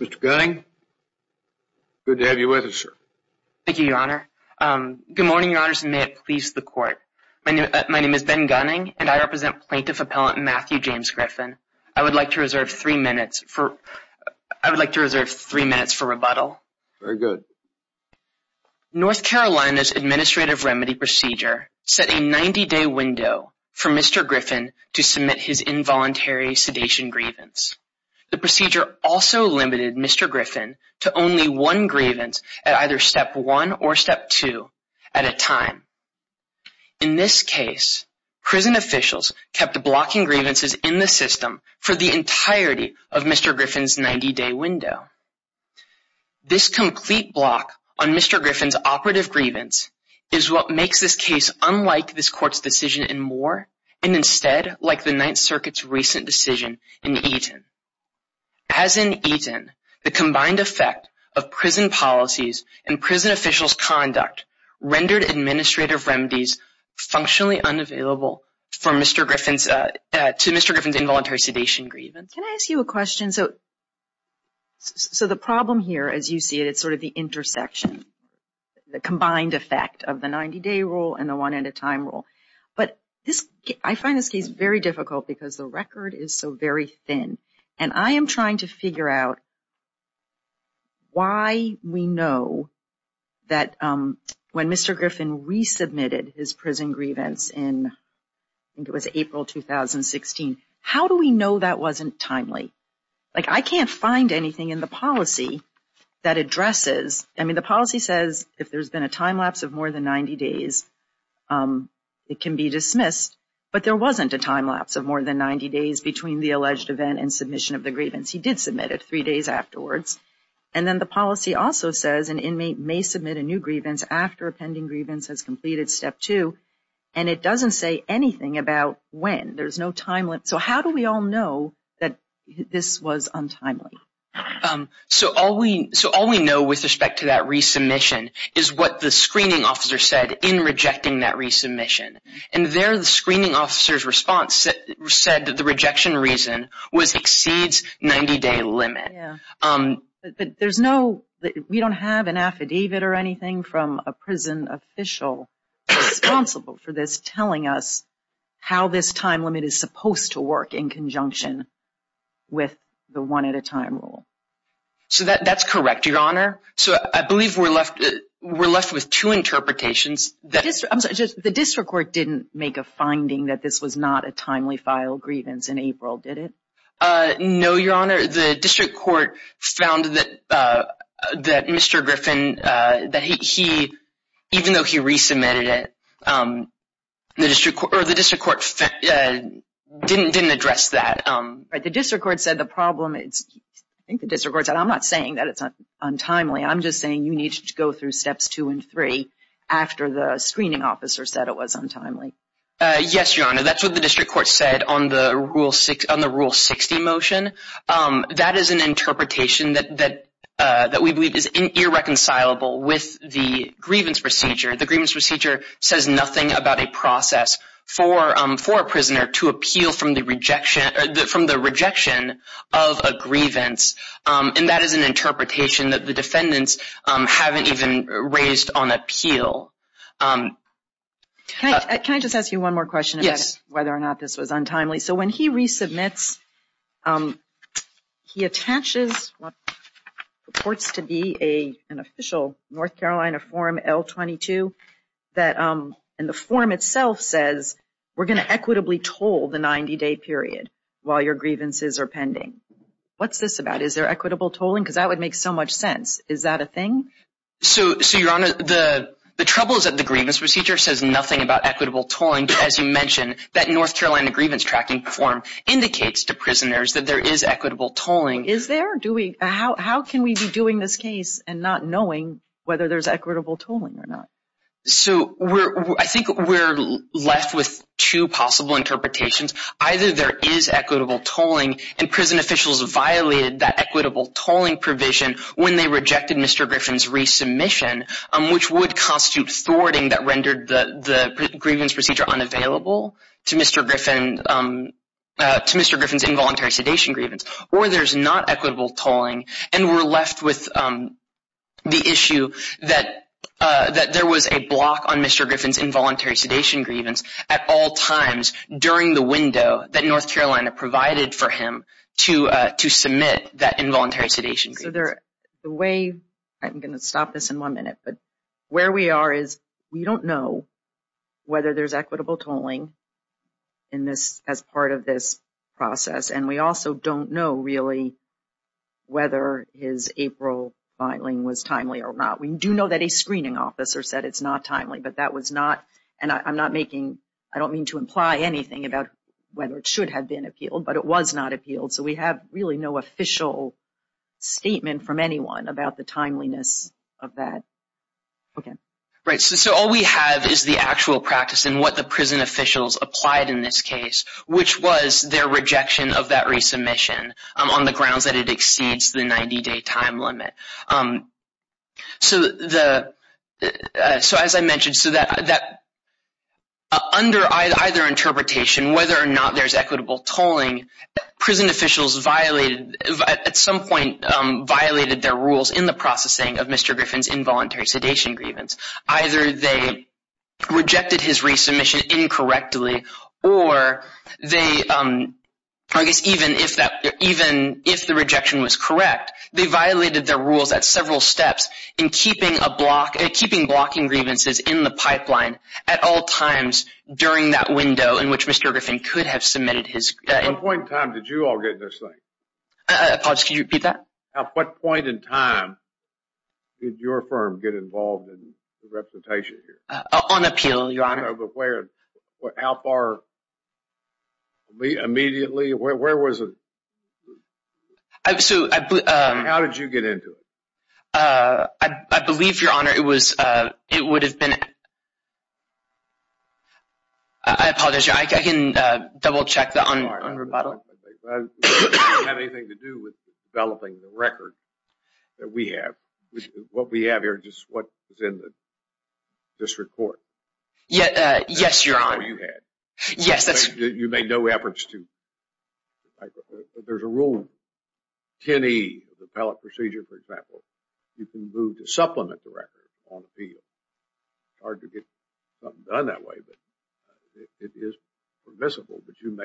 Mr. Gunning, good to have you with us, sir. Thank you, Your Honor. Good morning, Your Honors, and may it please the Court. My name is Ben Gunning, and I represent Plaintiff Appellant Matthew James Griffin. I would like to reserve three minutes for rebuttal. Very good. North Carolina's administrative remedy procedure set a 90-day window for Mr. Griffin to submit his involuntary sedation grievance. The procedure also limited Mr. Griffin to only one grievance at either Step 1 or Step 2 at a time. In this case, prison officials kept blocking grievances in the system for the entirety of Mr. Griffin's 90-day window. This complete block on Mr. Griffin's operative grievance is what makes this case unlike this circuit's recent decision in Eaton. As in Eaton, the combined effect of prison policies and prison officials' conduct rendered administrative remedies functionally unavailable to Mr. Griffin's involuntary sedation grievance. Can I ask you a question? So the problem here, as you see it, is sort of the intersection, the combined effect of the 90-day rule and the one-at-a-time rule. But I find this case very difficult because the record is so very thin. And I am trying to figure out why we know that when Mr. Griffin resubmitted his prison grievance in, I think it was April 2016, how do we know that wasn't timely? Like I can't find anything in the policy that addresses, I mean, the policy says if there's been a time lapse of more than 90 days, it can be dismissed. But there wasn't a time lapse of more than 90 days between the alleged event and submission of the grievance. He did submit it three days afterwards. And then the policy also says an inmate may submit a new grievance after a pending grievance has completed step two. And it doesn't say anything about when. There's no time limit. So how do we all know that this was untimely? So all we know with respect to that resubmission is what the screening officer said in rejecting that resubmission. And there the screening officer's response said that the rejection reason was exceeds 90-day limit. But there's no, we don't have an affidavit or anything from a prison official responsible for this telling us how this time limit is supposed to work in conjunction with the one-at-a-time rule. So that's correct, Your Honor. So I believe we're left with two interpretations. The district court didn't make a finding that this was not a timely filed grievance in April, did it? No, Your Honor. The district court found that Mr. Griffin, that he, even though he resubmitted it, the district court didn't address that. The district court said the problem is, I think the district court said, I'm not saying that it's untimely. I'm just saying you need to go through steps two and three after the screening officer said it was untimely. Yes, Your Honor. That's what the district court said on the rule 60 motion. That is an interpretation that we believe is irreconcilable with the grievance procedure. The grievance procedure says nothing about a process for a prisoner to appeal from the rejection of a grievance. And that is an interpretation that the defendants haven't even raised on appeal. Can I just ask you one more question about whether or not this was untimely? So when he resubmits he attaches what purports to be an official North Carolina form L-22 that, and the form itself says we're going to equitably toll the 90-day period while your grievances are pending. What's this about? Is there equitable tolling? Because that would make so much sense. Is that a thing? So, Your Honor, the trouble is that the grievance procedure says nothing about equitable tolling. As you mentioned, that North Carolina grievance tracking form indicates to prisoners that there is equitable tolling. Is there? How can we be doing this case and not knowing whether there's equitable tolling or not? So I think we're left with two possible interpretations. Either there is equitable tolling and prison officials violated that equitable tolling provision when they rejected Mr. Griffin's resubmission, which would constitute thwarting that rendered the grievance procedure unavailable to Mr. Griffin's involuntary sedation grievance. Or there's not equitable tolling and we're left with the issue that there was a block on Mr. Griffin's involuntary sedation grievance at all times during the window that North Carolina provided for him to submit that involuntary sedation. So the way, I'm going to stop this in one minute, but we are is we don't know whether there's equitable tolling in this as part of this process. And we also don't know really whether his April filing was timely or not. We do know that a screening officer said it's not timely, but that was not. And I'm not making, I don't mean to imply anything about whether it should have been appealed, but it was not appealed. So we have really no official statement from anyone about the timeliness of that. Okay. Right. So all we have is the actual practice and what the prison officials applied in this case, which was their rejection of that resubmission on the grounds that it exceeds the 90-day time limit. So as I mentioned, so that under either interpretation, whether or not there's some point violated their rules in the processing of Mr. Griffin's involuntary sedation grievance, either they rejected his resubmission incorrectly, or they, I guess, even if that, even if the rejection was correct, they violated their rules at several steps in keeping a block, keeping blocking grievances in the pipeline at all times during that window in which Mr. Griffin could have submitted his... At what point in time did you get this thing? I apologize, could you repeat that? At what point in time did your firm get involved in the representation here? On appeal, Your Honor. I don't know, but where, how far, immediately, where was it? So I... How did you get into it? I believe, Your Honor, it was, it would have been... I apologize, I can double check that on rebuttal. It had nothing to do with developing the record that we have. What we have here is just what is in the district court. Yes, Your Honor. That's all you had. Yes, that's... You made no efforts to... There's a rule, 10E of the appellate procedure, for example, you can move to supplement the record on appeal. It's hard to get something done that way, but it is permissible, but you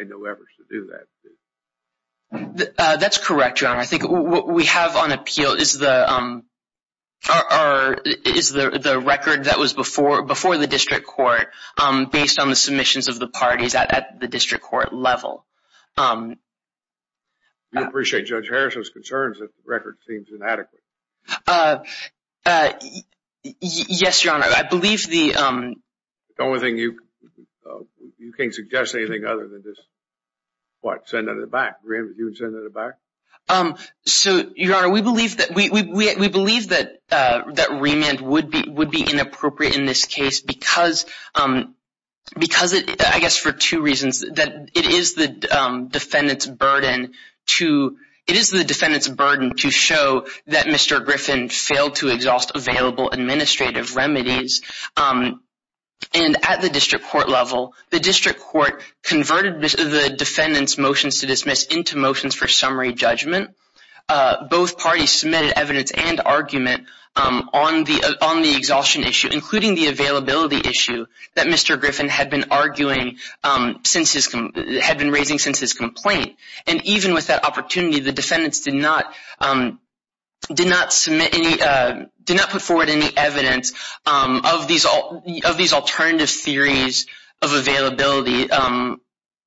That's correct, Your Honor. I think what we have on appeal is the record that was before the district court based on the submissions of the parties at the district court level. We appreciate Judge Harris's concerns that the record seems inadequate. Yes, Your Honor. I believe the... The only thing you... You can't suggest anything other than just what? Send it in the back? You would send it in the back? So, Your Honor, we believe that... We believe that remand would be inappropriate in this case because it... I guess for two reasons. That it is the defendant's burden to... It is the defendant's burden to show that Mr. Griffin failed to exhaust available administrative remedies. And at the district court level, the district court converted the defendant's motions to dismiss into motions for summary judgment. Both parties submitted evidence and argument on the... On the exhaustion issue, including the availability issue that Mr. Griffin had been arguing since his... Had been raising since his complaint. And even with that opportunity, the defendants did not... Did not submit any... Did not put forward any evidence of these alternative theories of availability.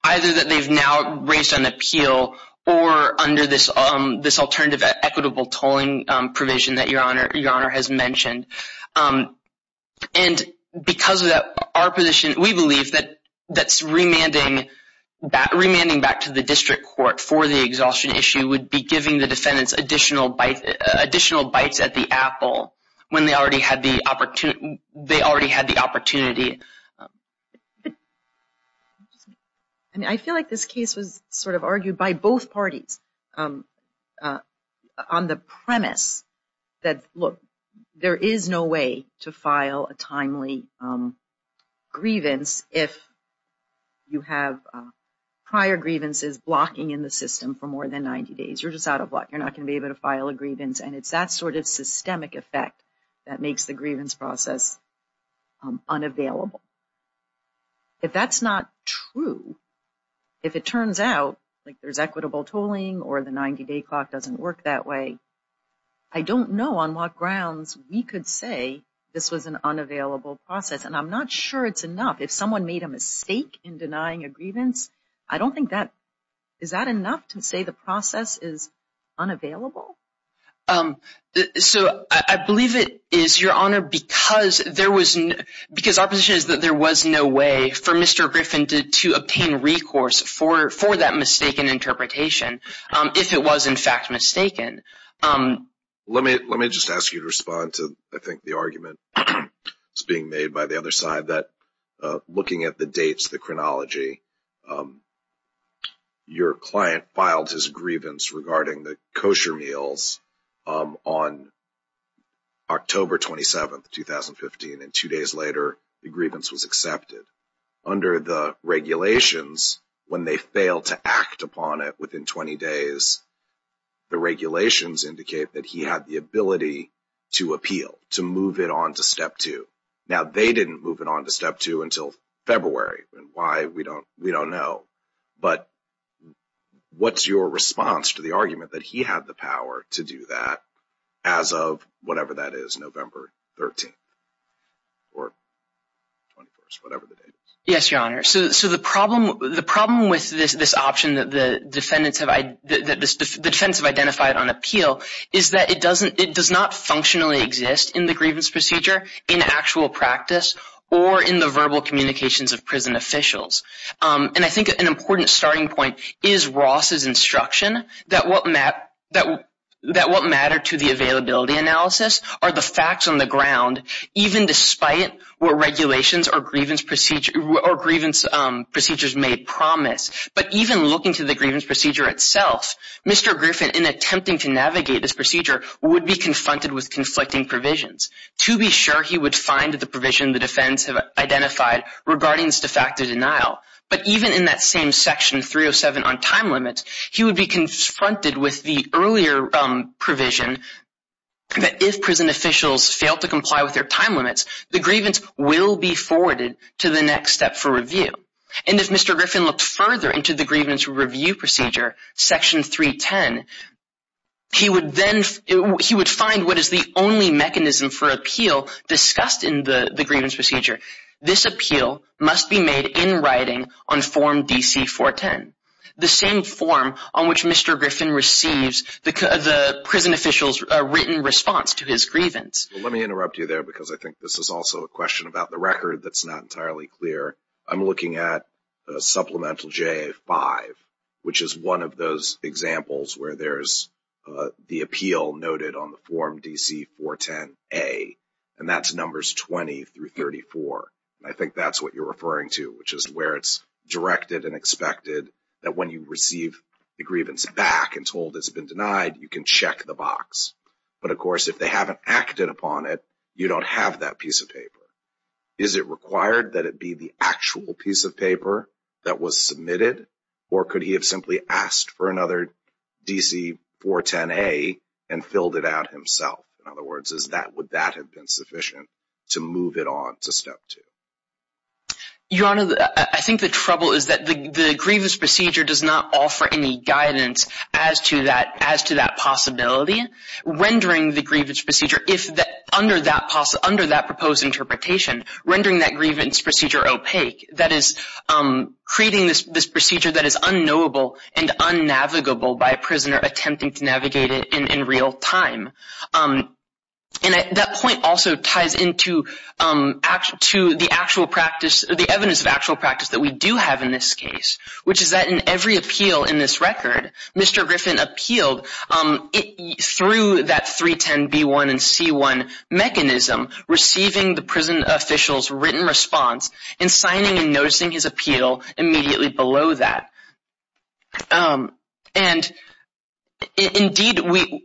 Either that they've now raised on appeal or under this alternative equitable tolling provision that Your Honor has mentioned. And because of that, our position... We believe that that's remanding back to the district court for the exhaustion issue would be giving the defendants additional bites at the apple when they already had the opportunity. They already had the opportunity. And I feel like this case was sort of argued by both parties on the premise that, look, there is no way to file a timely grievance if you have prior grievances blocking in the system for more than 90 days. You're just out of luck. You're not going to be able to file a grievance. And it's that sort of systemic effect that makes the grievance process unavailable. If that's not true, if it turns out like there's equitable tolling or the 90-day clock doesn't work that way, I don't know on what grounds we could say this was an unavailable process. And I'm not sure it's enough. If someone made a mistake in denying a grievance, I don't think that... Is that enough to say the process is unavailable? So I believe it is, Your Honor, because there was... Because our position is that there was no way for Mr. Griffin to obtain recourse for that mistaken interpretation if it was, in fact, mistaken. Let me just ask you to respond to, I think, the argument that's being made by the other side that, looking at the dates, the chronology, your client filed his grievance regarding the kosher meals on October 27th, 2015, and two days later, the grievance was accepted. Under the regulations, when they fail to act upon it within 20 days, the regulations indicate that he had the ability to appeal, to move it on to Step 2. Now, they didn't move it on to Step 2 until February, and why, we don't know. But what's your response to the argument that he had the power to do that as of, whatever that is, November 13th or 21st, whatever the date is? Yes, Your Honor. So the problem with this option that the defendants have identified on appeal is that it does not functionally exist in the grievance procedure, in actual practice, or in the verbal communications of prison officials. And I think an important starting point is Ross's instruction that what matter to the availability analysis are the facts on the ground, even despite what regulations or grievance procedures made promise. But even looking to the grievance procedure itself, Mr. Griffin, in attempting to navigate this procedure, would be confronted with conflicting provisions. To be sure, he would find the provision the defendants have identified regarding this de facto denial. But even in that same Section 307 on time limits, he would be confronted with the earlier provision that if prison officials fail to comply with their time limits, the grievance will be forwarded to the next step for review. And if Mr. Griffin looked further into the grievance review procedure, Section 310, he would find what is the only mechanism for appeal discussed in the grievance procedure. This appeal must be made in writing on Form DC-410, the same form on which Mr. Griffin receives the prison official's written response to his grievance. Let me interrupt you there because I think this is also a question about the record that's not entirely clear. I'm looking at Supplemental JA-5, which is one of those examples where there's the appeal noted on the Form DC-410A, and that's Numbers 20 through 34. I think that's what you're referring to, which is where it's directed and expected that when you receive the grievance back and told it's been denied, you can check the box. But of course, if they haven't acted upon it, you don't have that piece of paper. Is it required that it be the actual piece of paper that was submitted, or could he have simply asked for another DC-410A and filled it out himself? In other words, would that have been sufficient to move it on to the next step? Your Honor, I think the trouble is that the grievance procedure does not offer any guidance as to that possibility, rendering the grievance procedure, under that proposed interpretation, rendering that grievance procedure opaque. That is, creating this procedure that is unknowable and unnavigable by a prisoner attempting to navigate it in real time. And that point also ties into the evidence of actual practice that we do have in this case, which is that in every appeal in this record, Mr. Griffin appealed through that 310B1 and C1 mechanism, receiving the prison official's written response and signing and noticing his appeal immediately below that. And indeed,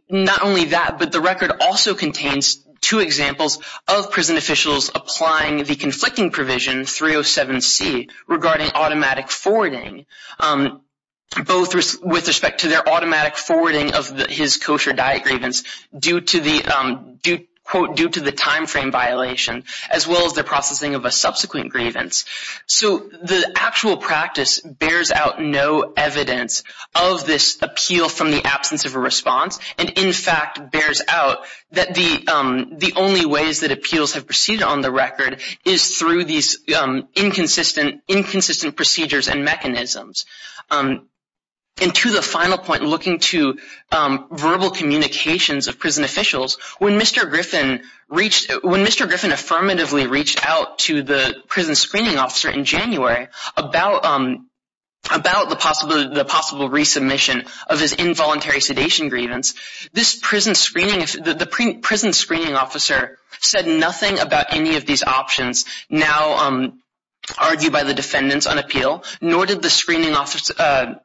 not only that, but the record also contains two examples of prison officials applying the conflicting provision 307C regarding automatic forwarding, both with respect to their automatic forwarding of his kosher diet grievance due to the, quote, due to the timeframe violation, as well as the processing of a subsequent grievance. So the actual practice bears out no evidence of this appeal from the absence of a response, and in fact bears out that the only ways that appeals have proceeded on the record is through these inconsistent procedures and mechanisms. And to the final point, looking to verbal communications of prison officials, when Mr. Griffin reached, when Mr. Griffin affirmatively reached out to the prison screening officer in January about the possible resubmission of his involuntary sedation grievance, this prison screening, the prison screening officer said nothing about any of these options now argued by the defendants on appeal, nor did the screening officer,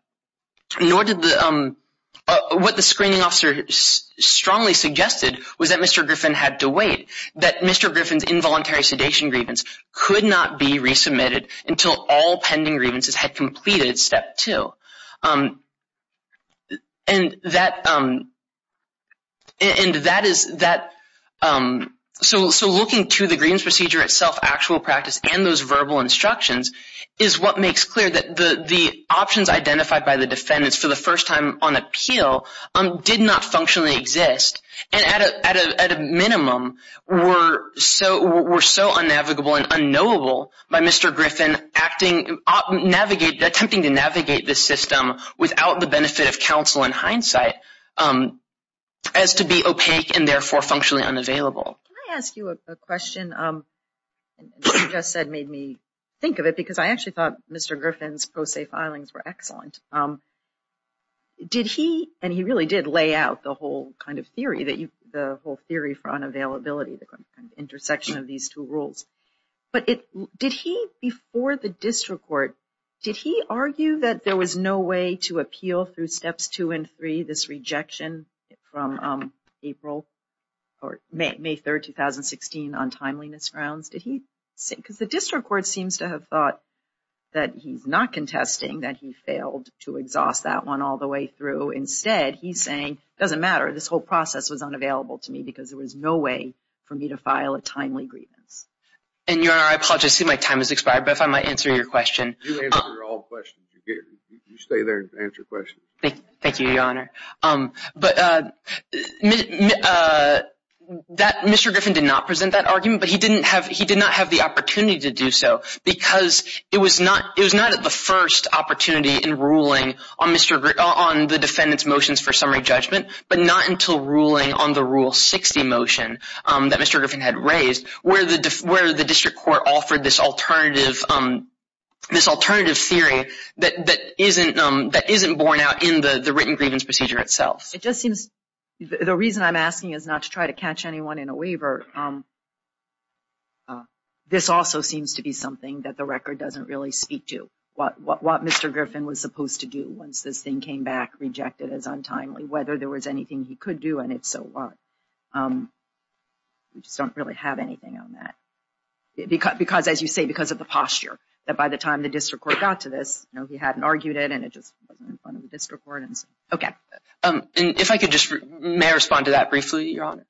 nor did the, what the screening officer strongly suggested was that Mr. Griffin had to involuntary sedation grievance could not be resubmitted until all pending grievances had completed step two. And that, and that is that, so looking to the grievance procedure itself, actual practice, and those verbal instructions is what makes clear that the options identified by the defendants for the first time on appeal did not functionally exist, and at a minimum were so, were so unnavigable and unknowable by Mr. Griffin acting, navigating, attempting to navigate this system without the benefit of counsel and hindsight as to be opaque and therefore functionally unavailable. Can I ask you a question? You just said made me think of it because I actually thought Mr. Griffin's pro se filings were excellent. Did he, and he really did lay out the whole kind of theory that you, the whole theory for unavailability, the kind of intersection of these two rules, but it, did he before the district court, did he argue that there was no way to appeal through steps two and three, this rejection from April or May 3rd, 2016 on timeliness grounds? Did he say, because the district court seems to have thought that he's not contesting that he failed to exhaust that one all the way through, instead he's saying, doesn't matter, this whole process was unavailable to me because there was no way for me to file a timely grievance. And Your Honor, I apologize, I see my time has expired, but if I might answer your question. You answer all questions. You stay there and answer questions. Thank you, Your Honor. But Mr. Griffin did not present that argument, but he didn't have, the opportunity to do so, because it was not, it was not at the first opportunity in ruling on Mr., on the defendant's motions for summary judgment, but not until ruling on the Rule 60 motion that Mr. Griffin had raised, where the, where the district court offered this alternative, this alternative theory that, that isn't, that isn't borne out in the written grievance procedure itself. It just seems, the reason I'm asking is not to try to catch anyone in a waiver. This also seems to be something that the record doesn't really speak to. What, what, what Mr. Griffin was supposed to do once this thing came back, rejected as untimely, whether there was anything he could do, and if so, what? We just don't really have anything on that. Because, because, as you say, because of the posture, that by the time the district court got to this, you know, he hadn't argued it, and it just wasn't in front of the district court, and so, okay. And if I could just, may I respond to that briefly, Your Honor?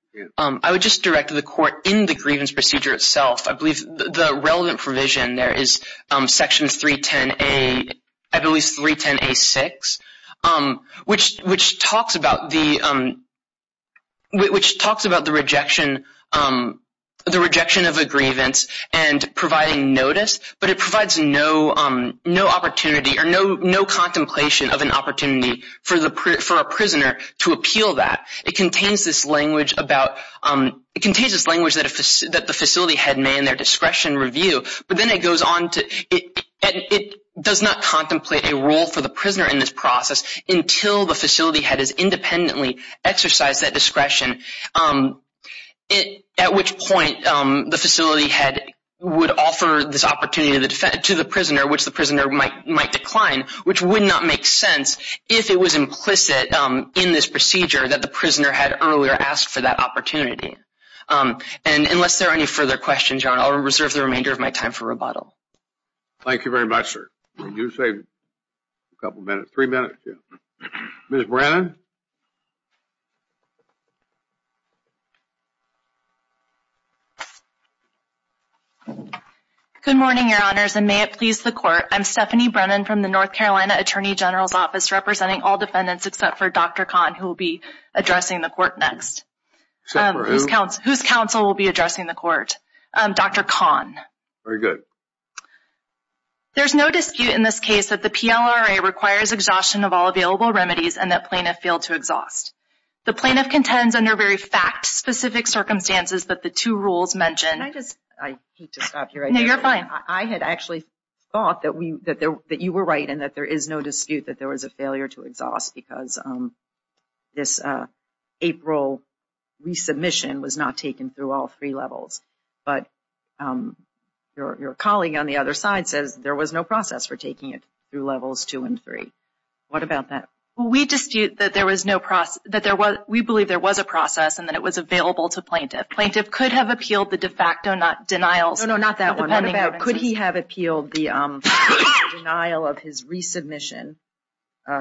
I would just direct the court in the grievance procedure itself. I believe the relevant provision there is Section 310A, I believe it's 310A6, which, which talks about the, which talks about the rejection, the rejection of a grievance and providing notice, but it provides no, no opportunity or no, no contemplation of an opportunity for the, for a prisoner to appeal that. It contains this language about, it contains this language that a, that the facility head may in their discretion review, but then it goes on to, it does not contemplate a rule for the prisoner in this process until the facility head has independently exercised that discretion, at which point the facility head would offer this opportunity to the, to the prisoner, which the prisoner might, might decline, which would not make sense if it was implicit in this procedure that the prisoner had earlier asked for that opportunity. And unless there are any further questions, Your Honor, I'll reserve the remainder of my time for rebuttal. Thank you very much, sir. You saved a couple minutes, three minutes, yeah. Ms. Brennan? Good morning, Your Honors, and may it please the court. I'm Stephanie Brennan from the North for Dr. Kahn, who will be addressing the court next. Except for who? Whose counsel will be addressing the court? Dr. Kahn. Very good. There's no dispute in this case that the PLRA requires exhaustion of all available remedies and that plaintiff failed to exhaust. The plaintiff contends under very fact-specific circumstances that the two rules mentioned. Can I just, I hate to stop here. No, you're fine. I had actually thought that we, that there, that you were right in that there is no dispute that there was a failure to exhaust because this April resubmission was not taken through all three levels. But your colleague on the other side says there was no process for taking it through levels two and three. What about that? Well, we dispute that there was no process, that there was, we believe there was a process and that it was available to plaintiff. Plaintiff could have appealed the de facto denials. No, no, not that one. Could he have appealed the denial of his resubmission,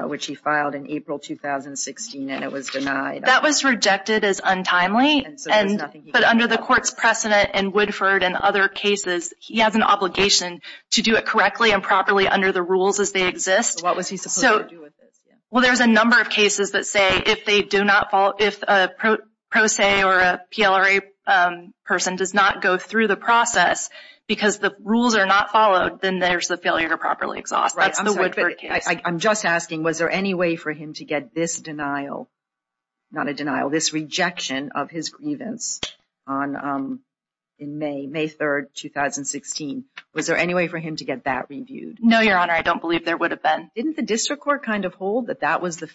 which he filed in April 2016 and it was denied? That was rejected as untimely and, but under the court's precedent and Woodford and other cases, he has an obligation to do it correctly and properly under the rules as they exist. So what was he supposed to do with this? Well, there's a number of cases that say if they do not follow, if a pro se or a PLRA person does not go through the process because the rules are not followed, then there's the failure to properly exhaust. I'm just asking, was there any way for him to get this denial, not a denial, this rejection of his grievance on, in May, May 3rd, 2016, was there any way for him to get that reviewed? No, Your Honor, I don't believe there would have been. Didn't the district court kind of hold that that was the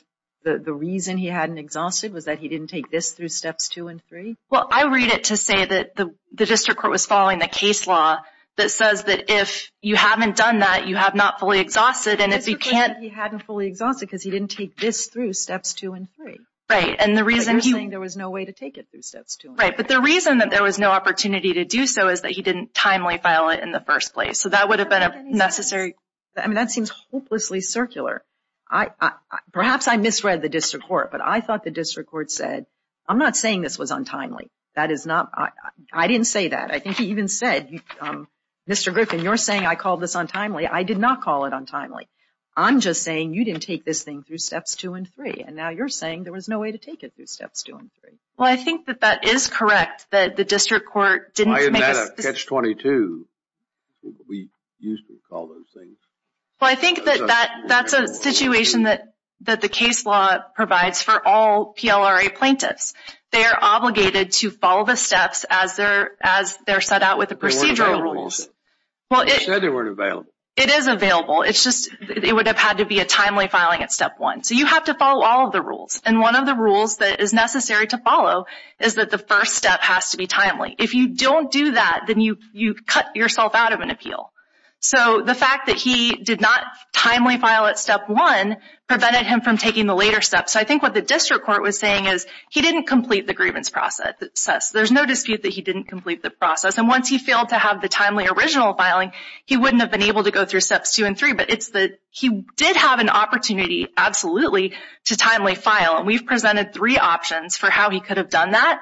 reason he hadn't exhausted, was that he didn't take this through steps two and three? Well, I read it to say that the district court was following the case law that says that if you haven't done that, you have not fully exhausted and if you can't. He hadn't fully exhausted because he didn't take this through steps two and three. Right, and the reason he. There was no way to take it through steps two. Right, but the reason that there was no opportunity to do so is that he didn't timely file it in the first place. So that would have been a necessary. I mean, that seems hopelessly circular. Perhaps I misread the district court, but I thought the district court said, I'm not saying this was untimely. That is not, I didn't say that. I think he even said, Mr. Griffin, you're saying I called this untimely. I did not call it untimely. I'm just saying you didn't take this thing through steps two and three. And now you're saying there was no way to take it through steps two and three. Well, I think that that is correct, that the district court didn't. I had a catch 22. We used to call those things. Well, I think that that's a situation that the case law provides for all PLRA plaintiffs. They are obligated to follow the steps as they're set out with the procedural rules. Well, they said they weren't available. It is available. It's just it would have had to be a timely filing at step one. So you have to follow all of the rules. And one of the rules that is necessary to follow is that the first step has to be timely. So the fact that he did not timely file at step one prevented him from taking the later steps. I think what the district court was saying is he didn't complete the grievance process. There's no dispute that he didn't complete the process. And once he failed to have the timely original filing, he wouldn't have been able to go through steps two and three. But it's that he did have an opportunity, absolutely, to timely file. And we've presented three options for how he could have done that.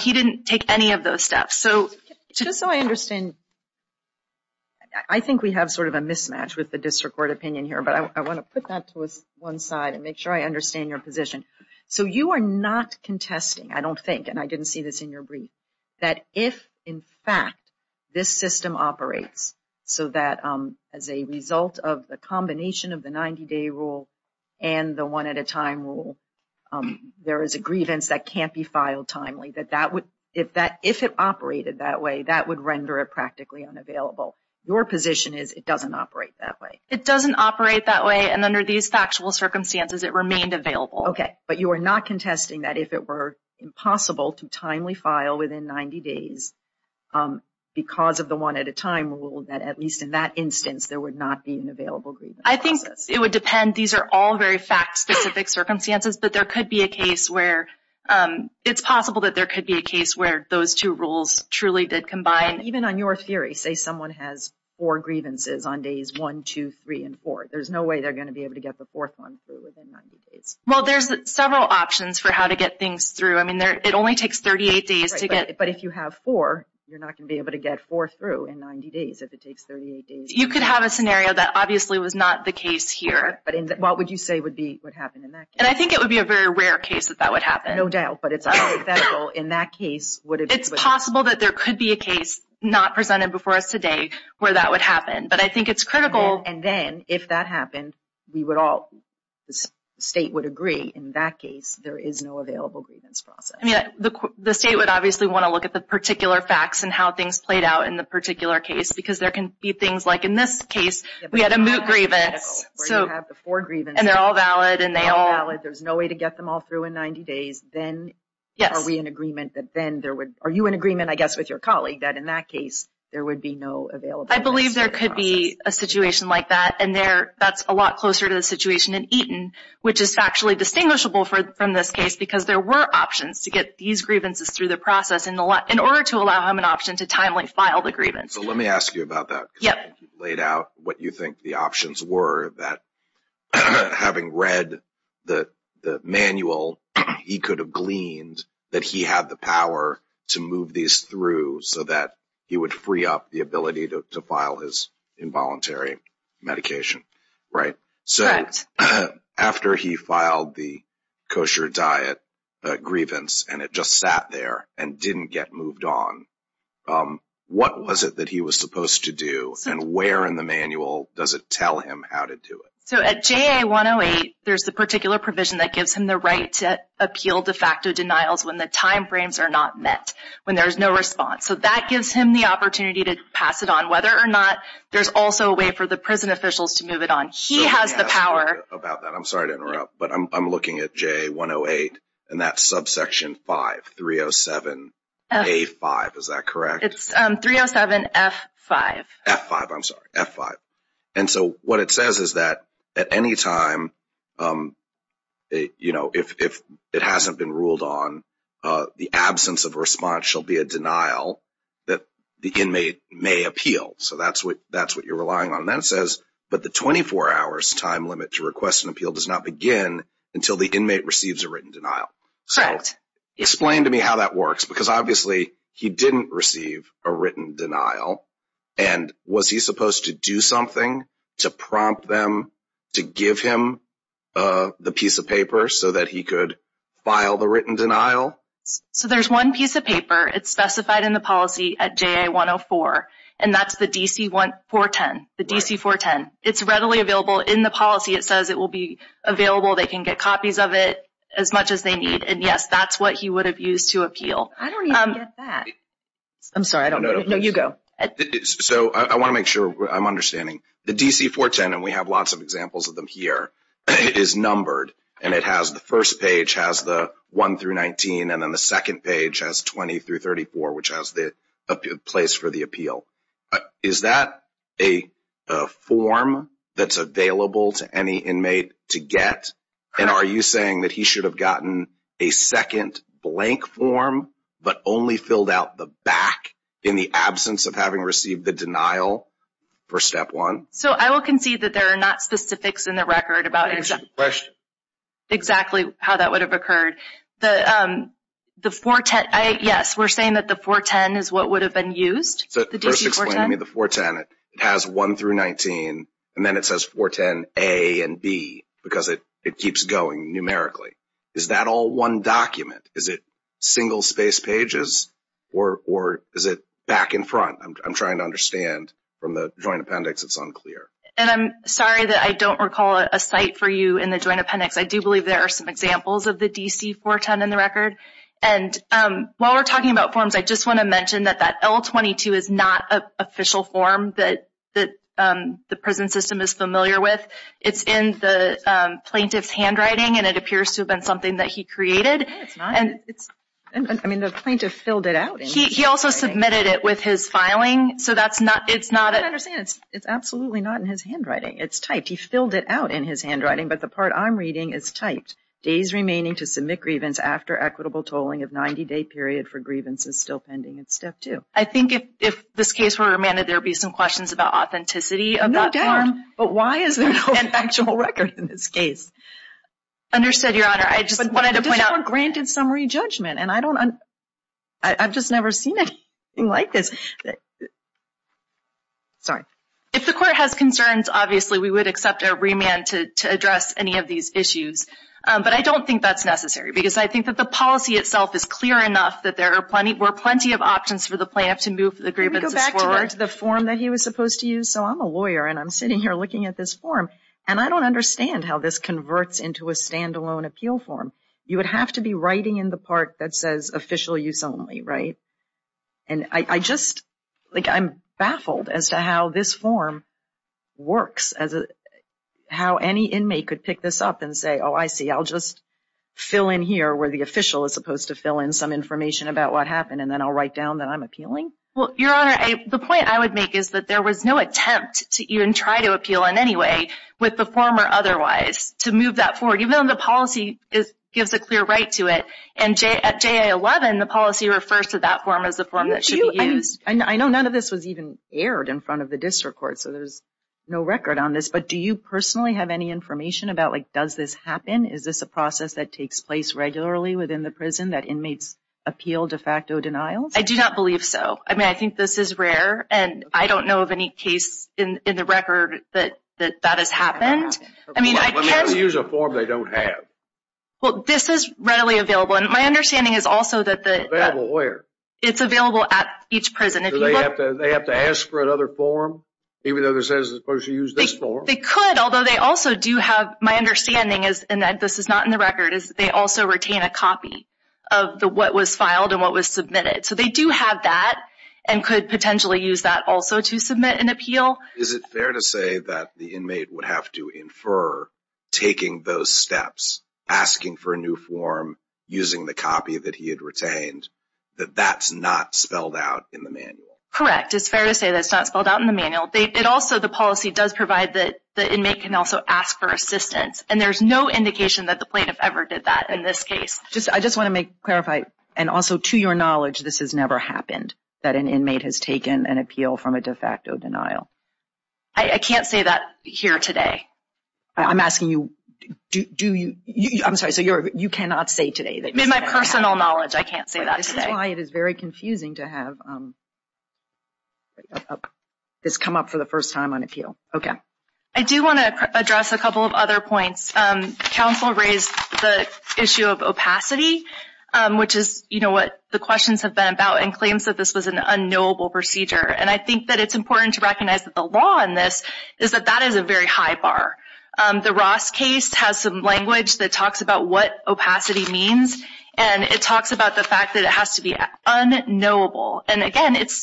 He didn't take any of those steps. Just so I understand, I think we have sort of a mismatch with the district court opinion here, but I want to put that to one side and make sure I understand your position. So you are not contesting, I don't think, and I didn't see this in your brief, that if in fact this system operates so that as a result of the combination of the 90-day rule and the one at a time rule, there is a grievance that can't be filed timely, if it operated that way, that would render it practically unavailable. Your position is it doesn't operate that way. It doesn't operate that way. And under these factual circumstances, it remained available. Okay, but you are not contesting that if it were impossible to timely file within 90 days because of the one at a time rule, that at least in that instance, there would not be an available grievance. I think it would depend. These are all very fact-specific circumstances, but it's possible that there could be a case where those two rules truly did combine. Even on your theory, say someone has four grievances on days 1, 2, 3, and 4, there's no way they're going to be able to get the fourth one through within 90 days. Well, there's several options for how to get things through. I mean, it only takes 38 days to get... But if you have four, you're not going to be able to get four through in 90 days if it takes 38 days. You could have a scenario that obviously was not the case here. But what would you say would happen in that case? I think it would be a very rare case that that would happen. No doubt, but it's hypothetical. In that case, would it be... It's possible that there could be a case not presented before us today where that would happen, but I think it's critical. And then, if that happened, we would all, the state would agree, in that case, there is no available grievance process. I mean, the state would obviously want to look at the particular facts and how things played out in the particular case because there can be things like in this case, we had a moot grievance. Where you have the four grievances. And they're all valid. And they're all valid. There's no way to get them all through in 90 days. Then, are we in agreement that then there would... Are you in agreement, I guess, with your colleague that in that case, there would be no available... I believe there could be a situation like that. And that's a lot closer to the situation in Eaton, which is actually distinguishable from this case because there were options to get these grievances through the process in order to allow him an option to timely file the grievance. So let me ask you about that. Yep. You laid out what you think the options were that having read the manual, he could have gleaned that he had the power to move these through so that he would free up the ability to file his involuntary medication, right? So after he filed the kosher diet grievance, and it just sat there and didn't get moved on, what was it that he was supposed to do? And where in the manual does it tell him how to do it? So at JA-108, there's the particular provision that gives him the right to appeal de facto denials when the timeframes are not met, when there's no response. So that gives him the opportunity to pass it on, whether or not there's also a way for the prison officials to move it on. He has the power... About that, I'm sorry to interrupt, but I'm looking at JA-108, and that's subsection 5, 307A-5, is that correct? It's 307F-5. F-5, I'm sorry, F-5. And so what it says is that at any time, if it hasn't been ruled on, the absence of response shall be a denial that the inmate may appeal. So that's what you're relying on. And then it says, but the 24 hours time limit to request an appeal does not begin until the inmate receives a written denial. So explain to me how that works, because obviously he didn't receive a written denial, and was he supposed to do something to prompt them to give him the piece of paper so that he could file the written denial? So there's one piece of paper. It's specified in the policy at JA-104, and that's the DC-410, the DC-410. It's readily available in the policy. It says it will be available. They can get copies of it as much as they need. And yes, that's what he would have used to appeal. I don't even get that. I'm sorry, I don't get it. No, you go. So I want to make sure I'm understanding. The DC-410, and we have lots of examples of them here, is numbered, and it has the first page has the 1 through 19, and then the second page has 20 through 34, which has the place for the appeal. Is that a form that's available to any inmate to get? And are you saying that he should have gotten a second blank form, but only filled out the back in the absence of having received the denial for step one? So I will concede that there are not specifics in the record about exactly how that would have occurred. Yes, we're saying that the 410 is what would have been used. So first explain to me the 410. It has 1 through 19, and then it says 410 A and B, because it keeps going numerically. Is that all one document? Is it single space pages, or is it back in front? I'm trying to understand. From the Joint Appendix, it's unclear. And I'm sorry that I don't recall a site for you in the Joint Appendix. I do believe there are some examples of the DC-410 in the record. And while we're talking about forms, I just want to mention that that L-22 is not an official form that the prison system is familiar with. It's in the plaintiff's handwriting, and it appears to have been something that he created. And it's, I mean, the plaintiff filled it out. He also submitted it with his filing. So that's not, it's not. I don't understand. It's absolutely not in his handwriting. It's typed. He filled it out in his handwriting. But the part I'm reading is typed. Days remaining to submit grievance after equitable tolling of 90-day period for grievance is still pending. It's step two. I think if this case were remanded, there would be some questions about authenticity. No doubt. But why is there no actual record in this case? Understood, Your Honor. I just wanted to point out. But this court granted summary judgment. And I don't, I've just never seen anything like this. Sorry. If the court has concerns, obviously, we would accept a remand to address any of these issues. But I don't think that's necessary. Because I think that the policy itself is clear enough that there are plenty, were plenty of options for the plaintiff to move the grievances forward. Let me go back to the form that he was supposed to use. So I'm a lawyer, and I'm sitting here looking at this form. And I don't understand how this converts into a standalone appeal form. You would have to be writing in the part that says official use only, right? And I just, like, I'm baffled as to how this form works. How any inmate could pick this up and say, oh, I see. I'll just fill in here where the official is supposed to fill in some information about what happened. And then I'll write down that I'm appealing. Well, Your Honor, the point I would make is that there was no attempt to even try to appeal in any way with the form or otherwise to move that forward. Even though the policy gives a clear right to it. And at JA-11, the policy refers to that form as the form that should be used. I know none of this was even aired in front of the district court. So there's no record on this. But do you personally have any information about, like, does this happen? Is this a process that takes place regularly within the prison that inmates appeal de facto denials? I do not believe so. I mean, I think this is rare. And I don't know of any case in the record that that has happened. I mean, I can't use a form they don't have. Well, this is readily available. And my understanding is also that it's available at each prison. They have to ask for another form, even though this is supposed to use this form. They could, although they also do have, my understanding is, and this is not in the record, is that they also retain a copy of what was filed and what was submitted. So they do have that and could potentially use that also to submit an appeal. Is it fair to say that the inmate would have to infer taking those steps, asking for a new form, using the copy that he had retained, that that's not spelled out in the manual? Correct. It's fair to say that it's not spelled out in the manual. It also, the policy does provide that the inmate can also ask for assistance. And there's no indication that the plaintiff ever did that in this case. I just want to clarify, and also to your knowledge, this has never happened, that an inmate has taken an appeal from a de facto denial. I can't say that here today. I'm asking you, do you, I'm sorry, so you cannot say today? My personal knowledge, I can't say that today. This is why it is very confusing to have this come up for the first time on appeal. Okay. I do want to address a couple of other points. Counsel raised the issue of opacity, which is what the questions have been about, and claims that this was an unknowable procedure. And I think that it's important to recognize that the law in this is that that is a very high bar. The Ross case has some language that talks about what opacity means, and it talks about the fact that it has to be unknowable. And again, it's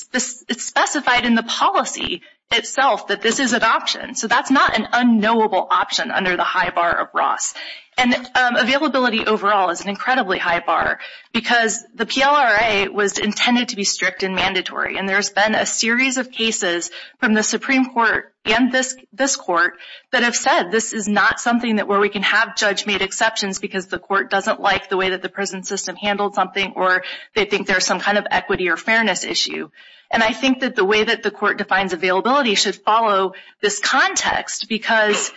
specified in the policy itself that this is an option. So that's not an unknowable option under the high bar of Ross. And availability overall is an incredibly high bar, because the PLRA was intended to be strict and mandatory. And there's been a series of cases from the Supreme Court and this court that have said this is not something where we can have judge-made exceptions because the court doesn't like the way that the prison system handled something, or they think there's some kind of equity or fairness issue. And I think that the way that the court defines availability should follow this context, because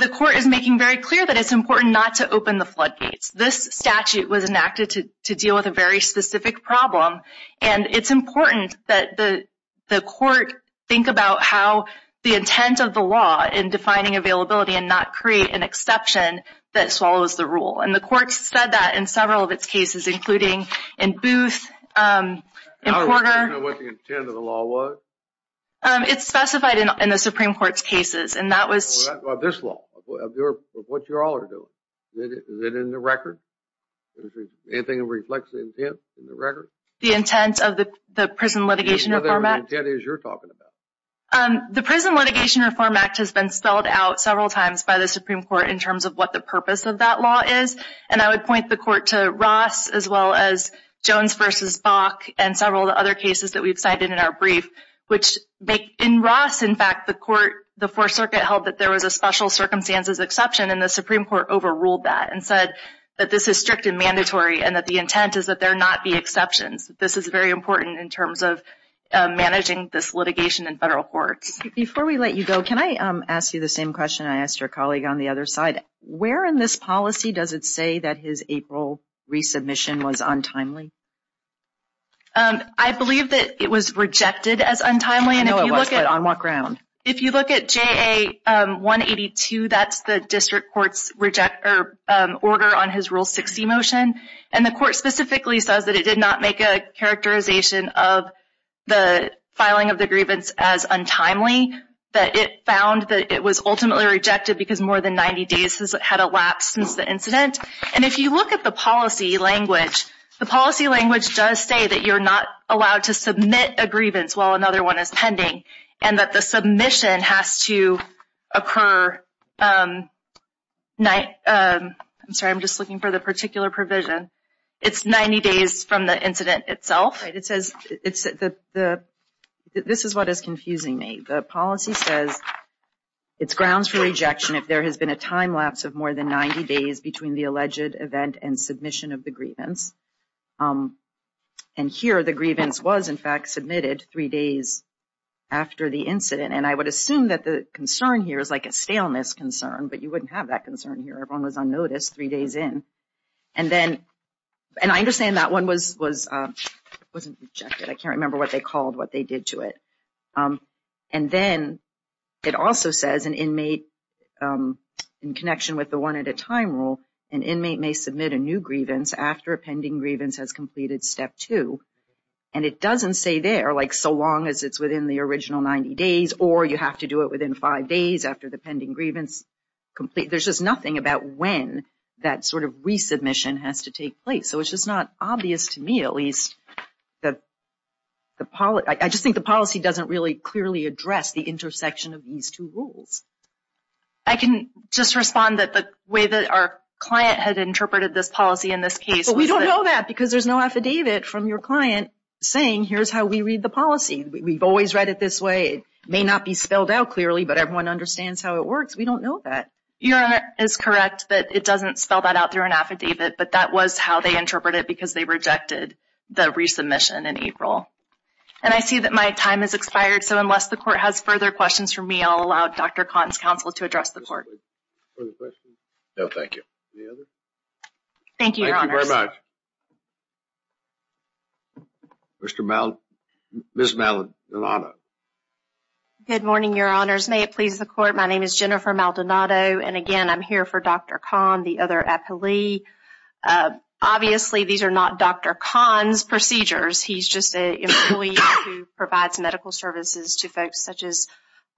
the court is making very clear that it's important not to open the floodgates. This statute was enacted to deal with a very specific problem, and it's important that the court think about how the intent of the law in defining availability and not create an exception that swallows the rule. And the court said that in several of its cases, including in Booth, in Porter. I don't know what the intent of the law was. It's specified in the Supreme Court's cases. And that was... This law, of what you all are doing. Is it in the record? Anything that reflects the intent in the record? The intent of the Prison Litigation Reform Act? The intent is you're talking about. The Prison Litigation Reform Act has been spelled out several times by the Supreme Court in terms of what the purpose of that law is. And I would point the court to Ross, as well as Jones v. Bach, and several other cases that we've cited in our brief. Which in Ross, in fact, the court, the Fourth Circuit, held that there was a special circumstances exception, and the Supreme Court overruled that and said that this is strict and mandatory, and that the intent is that there not be exceptions. This is very important in terms of managing this litigation in federal courts. Before we let you go, can I ask you the same question I asked your colleague on the other side? Where in this policy does it say that his April resubmission was untimely? I believe that it was rejected as untimely. I know it was, but on what ground? If you look at JA-182, that's the district court's order on his Rule 60 motion. And the court specifically says that it did not make a characterization of the filing of the grievance as untimely. That it found that it was ultimately rejected because more than 90 days had elapsed since the incident. And if you look at the policy language, the policy language does say that you're not allowed to submit a grievance while another one is pending, and that the submission has to occur... I'm sorry, I'm just looking for the particular provision. It's 90 days from the incident itself. Right, it says... This is what is confusing me. The policy says it's grounds for rejection if there has been a time lapse of more than 90 days between the alleged event and submission of the grievance. And here, the grievance was in fact submitted three days after the incident. And I would assume that the concern here is like a staleness concern, but you wouldn't have that concern here. Everyone was unnoticed three days in. And then, and I understand that one wasn't rejected. I can't remember what they called what they did to it. And then, it also says an inmate, in connection with the one-at-a-time rule, an inmate may submit a new grievance after a pending grievance has completed step two. And it doesn't say there, like, so long as it's within the original 90 days, or you have to do it within five days after the pending grievance complete. There's just nothing about when that sort of resubmission has to take place. So, it's just not obvious to me, at least. I just think the policy doesn't really clearly address the intersection of these two rules. I can just respond that the way that our client had interpreted this policy in this case. But we don't know that because there's no affidavit from your client saying here's how we read the policy. We've always read it this way. It may not be spelled out clearly, but everyone understands how it works. We don't know that. Your Honor is correct, but it doesn't spell that out through an affidavit. But that was how they interpret it because they rejected the resubmission in April. And I see that my time has expired. So, unless the court has further questions for me, I'll allow Dr. Kahn's counsel to address the court. Further questions? No, thank you. Any other? Thank you, Your Honor. Thank you very much. Mr. Maldonado, Ms. Maldonado. Good morning, Your Honors. May it please the court. My name is Jennifer Maldonado. And again, I'm here for Dr. Kahn, the other appellee. Obviously, these are not Dr. Kahn's procedures. He's just an employee who provides medical services to folks, such as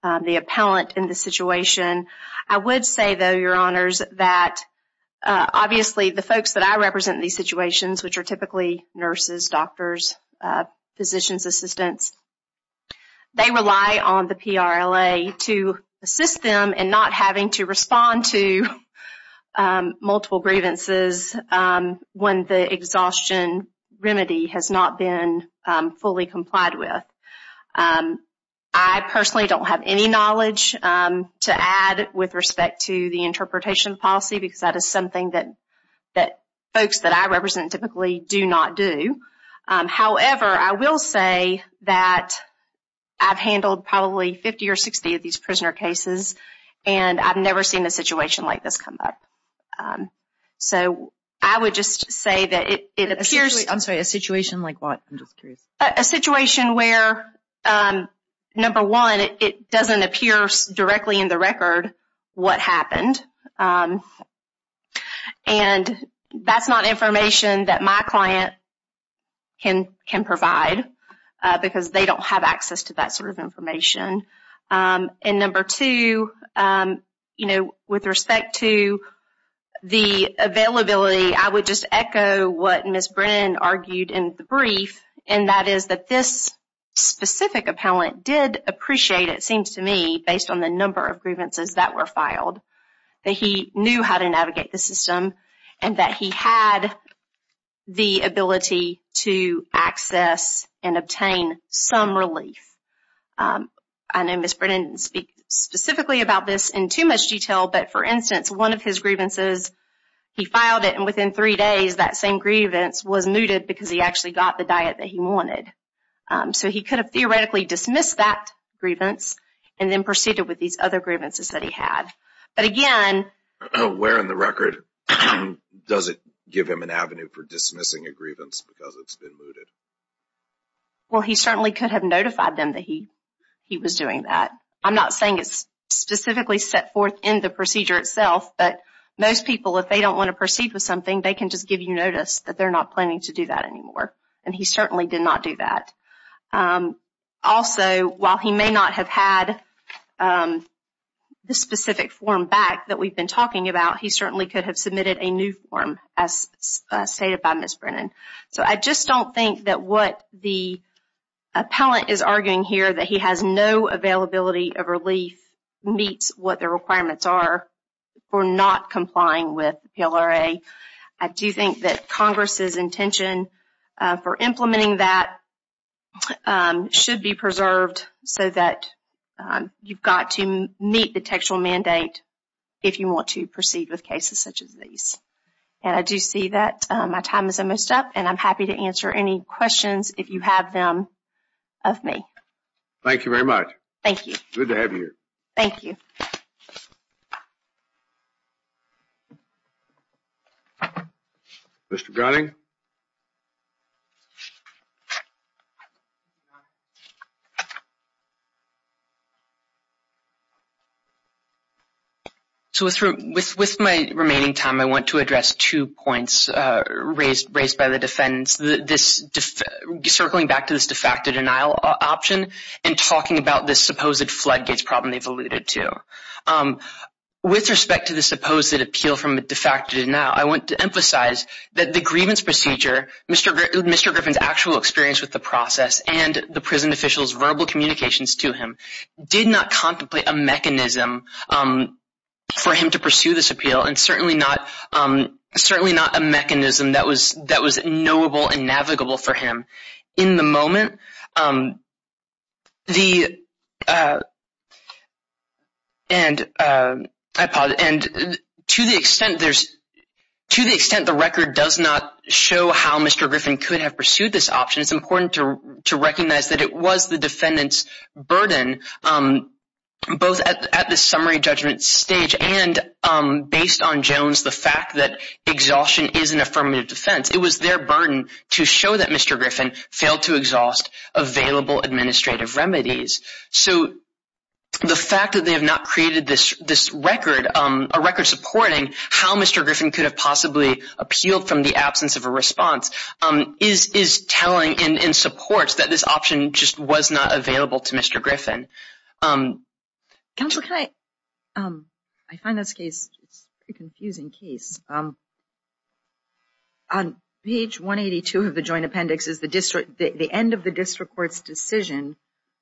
the appellant in this situation. I would say, though, Your Honors, that obviously, the folks that I represent in these situations, which are typically nurses, doctors, physicians, assistants, they rely on the PRLA to assist them in not having to respond to fully complied with. I personally don't have any knowledge to add with respect to the interpretation policy, because that is something that folks that I represent typically do not do. However, I will say that I've handled probably 50 or 60 of these prisoner cases, and I've never seen a situation like this come up. So, I would just say that it appears— Sorry, a situation like what? I'm just curious. A situation where, number one, it doesn't appear directly in the record what happened. And that's not information that my client can provide, because they don't have access to that sort of information. And number two, with respect to the availability, I would just echo what Ms. Brennan argued in the brief, and that is that this specific appellant did appreciate, it seems to me, based on the number of grievances that were filed, that he knew how to navigate the system, and that he had the ability to access and obtain some relief. I know Ms. Brennan didn't speak specifically about this in too much detail, but for instance, one of his grievances, he filed it, and within three days, that same grievance was mooted because he actually got the diet that he wanted. So, he could have theoretically dismissed that grievance and then proceeded with these other grievances that he had. But again— Where in the record does it give him an avenue for dismissing a grievance because it's been mooted? Well, he certainly could have notified them that he was doing that. I'm not saying it's specifically set forth in the procedure itself, but most people, if they don't want to proceed with something, they can just give you notice that they're not planning to do that anymore. And he certainly did not do that. Also, while he may not have had the specific form back that we've been talking about, he certainly could have submitted a new form, as stated by Ms. Brennan. So, I just don't think that what the appellant is arguing here, that he has no availability of relief, meets what the requirements are for not complying with PLRA. I do think that Congress's intention for implementing that should be preserved so that you've got to meet the textual mandate if you want to proceed with cases such as these. And I do see that my time is almost up, and I'm happy to answer any questions, if you have them, of me. Thank you very much. Thank you. Good to have you here. Thank you. Mr. Gunning? So, with my remaining time, I want to address two points raised by the defendants. Circling back to this de facto denial option and talking about this supposed floodgates problem they've alluded to. With respect to the supposed appeal from a de facto denial, I want to emphasize that the grievance procedure, Mr. Griffin's actual experience with the process, and the prison official's verbal communications to him, did not contemplate a mechanism for him to pursue this appeal, and certainly not a mechanism that was knowable and navigable for him. In the moment, to the extent the record does not show how Mr. Griffin could have pursued this option, it's important to recognize that it was the defendant's burden, both at the summary judgment stage and based on Jones, the fact that exhaustion is an affirmative defense. It was their burden to show that Mr. Griffin failed to exhaust available administrative remedies. So, the fact that they have not created this record, a record supporting how Mr. Griffin could have possibly appealed from the absence of a response, is telling and supports that this option just was not available to Mr. Griffin. Counselor, can I? I find this case a confusing case. Page 182 of the joint appendix is the district, the end of the district court's decision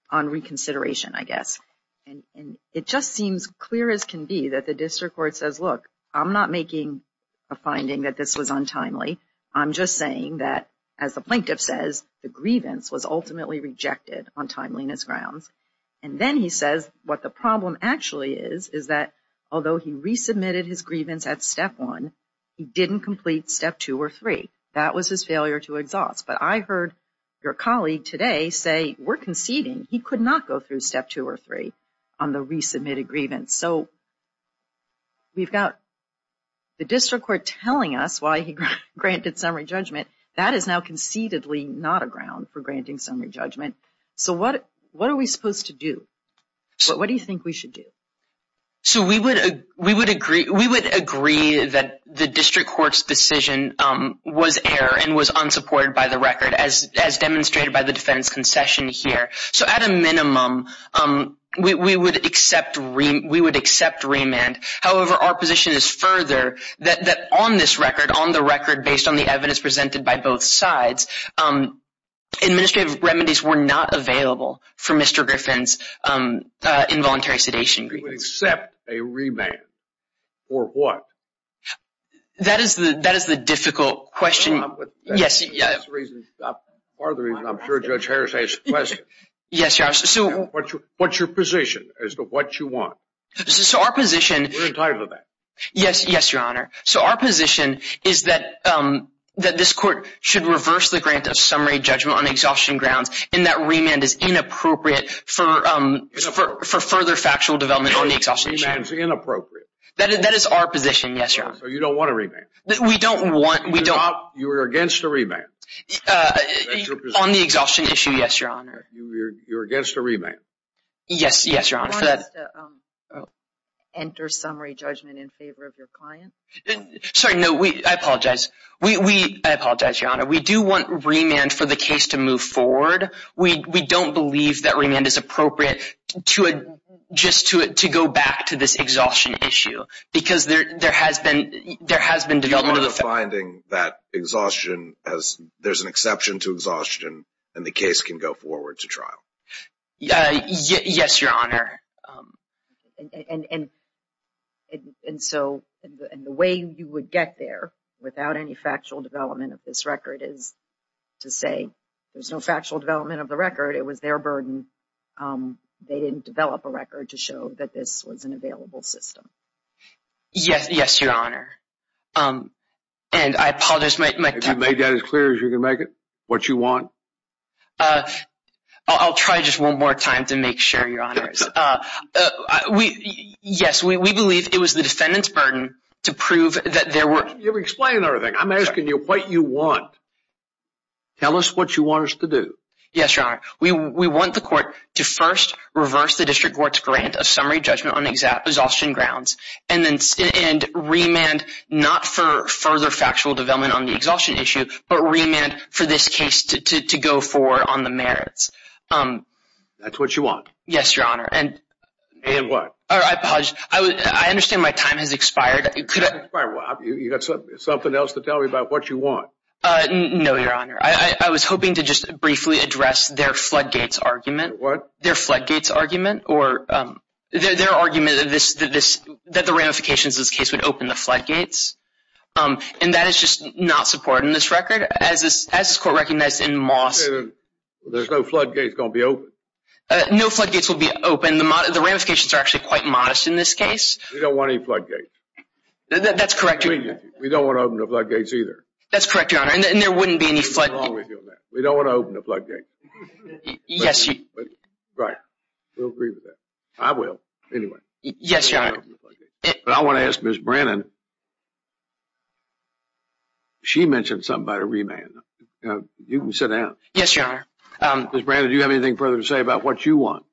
on reconsideration, I guess. And it just seems clear as can be that the district court says, look, I'm not making a finding that this was untimely. I'm just saying that, as the plaintiff says, the grievance was ultimately rejected on timeliness grounds. And then he says what the problem actually is, is that although he resubmitted his grievance at step one, he didn't complete step two or three. That was his failure to exhaust. But I heard your colleague today say, we're conceding he could not go through step two or three on the resubmitted grievance. So, we've got the district court telling us why he granted summary judgment. That is now concededly not a ground for granting summary judgment. So, what are we supposed to do? What do you think we should do? So, we would agree that the district court's decision was error and was unsupported by the record as demonstrated by the defense concession here. So, at a minimum, we would accept remand. However, our position is further that on this record, on the record based on the evidence presented by both sides, administrative remedies were not available for Mr. Griffin's involuntary sedation. We would accept a remand for what? That is the difficult question. That's part of the reason I'm sure Judge Harris asked the question. What's your position as to what you want? So, our position... We're entitled to that. Yes, Your Honor. So, our position is that this court should reverse the grant of summary judgment on exhaustion grounds and that remand is inappropriate for further factual development on the exhaustion issue. Remand is inappropriate. That is our position, yes, Your Honor. So, you don't want a remand? We don't want... You're against a remand? On the exhaustion issue, yes, Your Honor. You're against a remand? Yes, yes, Your Honor. You want us to enter summary judgment in favor of your client? Sorry, no, I apologize. I apologize, Your Honor. We do want remand for the case to move forward. We don't believe that remand is appropriate just to go back to this exhaustion issue because there has been development of the... Do you want a finding that there's an exception to exhaustion and the case can go forward to trial? Yes, Your Honor. And so, the way you would get there without any factual development of this record is to say there's no factual development of the record. It was their burden. They didn't develop a record to show that this was an available system. Yes, yes, Your Honor. And I apologize, my... Have you made that as clear as you can make it? What you want? I'll try just one more time to make sure, Your Honors. Yes, we believe it was the defendant's burden to prove that there were... You're explaining everything. I'm asking you what you want. Tell us what you want us to do. Yes, Your Honor. We want the court to first reverse the district court's grant of summary judgment on exhaustion grounds and remand not for further factual development on the exhaustion issue, but remand for this case to go forward on the merits. That's what you want? And what? I apologize. I understand my time has expired. Have you got something else to tell me about what you want? No, Your Honor. I was hoping to just briefly address their floodgates argument. What? Their floodgates argument or... Their argument that the ramifications of this case would open the floodgates. And that is just not supported in this record. As this court recognized in Moss... There's no floodgates going to be open. No floodgates will be open. The ramifications are actually quite modest in this case. We don't want any floodgates. That's correct, Your Honor. We don't want to open the floodgates either. That's correct, Your Honor. And there wouldn't be any floodgates. We don't want to open the floodgates. Yes, Your Honor. Right. We'll agree with that. I will. Anyway. Yes, Your Honor. But I want to ask Ms. Brannon. She mentioned something about a remand. You can sit down. Yes, Your Honor. Ms. Brannon, do you have anything further to say about what you want?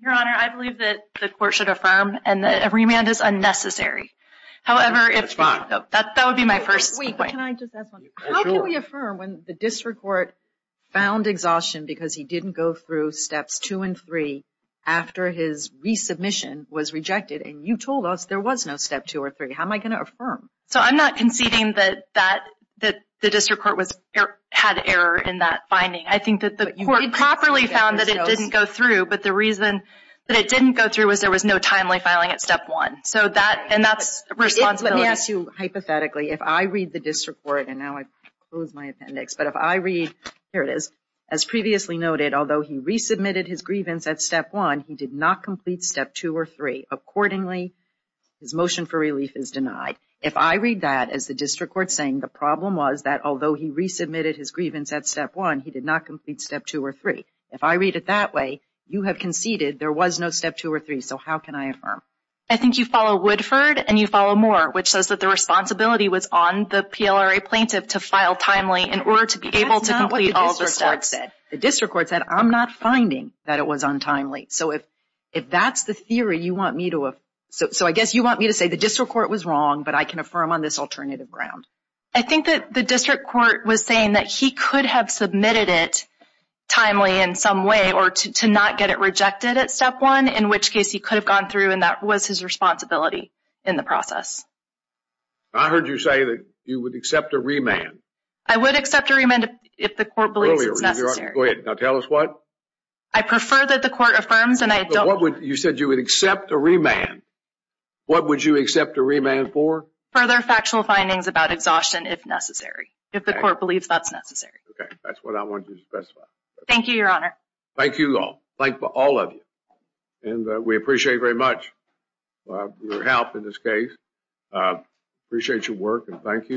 Your Honor, I believe that the court should affirm and that a remand is unnecessary. However, that would be my first... Can I just ask one? How can we affirm when the district court found exhaustion because he didn't go through steps two and three after his resubmission was rejected and you told us there was no step two or three? How am I going to affirm? So I'm not conceding that the district court had error in that finding. I think that the court properly found that it didn't go through, but the reason that it didn't go through was there was no timely filing at step one. And that's a responsibility. Let me ask you, hypothetically, if I read the district court, and now I've closed my appendix, but if I read... Here it is. As previously noted, although he resubmitted his grievance at step one, he did not complete step two or three. Accordingly, his motion for relief is denied. If I read that as the district court saying the problem was that although he resubmitted his grievance at step one, he did not complete step two or three. If I read it that way, you have conceded there was no step two or three. So how can I affirm? I think you follow Woodford and you follow Moore, which says that the responsibility was on the PLRA plaintiff to file timely in order to be able to complete all the steps. The district court said, I'm not finding that it was untimely. So if that's the theory you want me to... So I guess you want me to say the district court was wrong, but I can affirm on this alternative ground. I think that the district court was saying that he could have submitted it timely in some way or to not get it rejected at step one, in which case he could have gone through and that was his responsibility in the process. I heard you say that you would accept a remand. I would accept a remand if the court believes it's necessary. Go ahead, now tell us what? I prefer that the court affirms and I don't... You said you would accept a remand. What would you accept a remand for? Further factual findings about exhaustion if necessary, if the court believes that's necessary. Okay, that's what I want you to specify. Thank you, your honor. Thank you all. Thank all of you. And we appreciate very much your help in this case. Appreciate your work and thank you.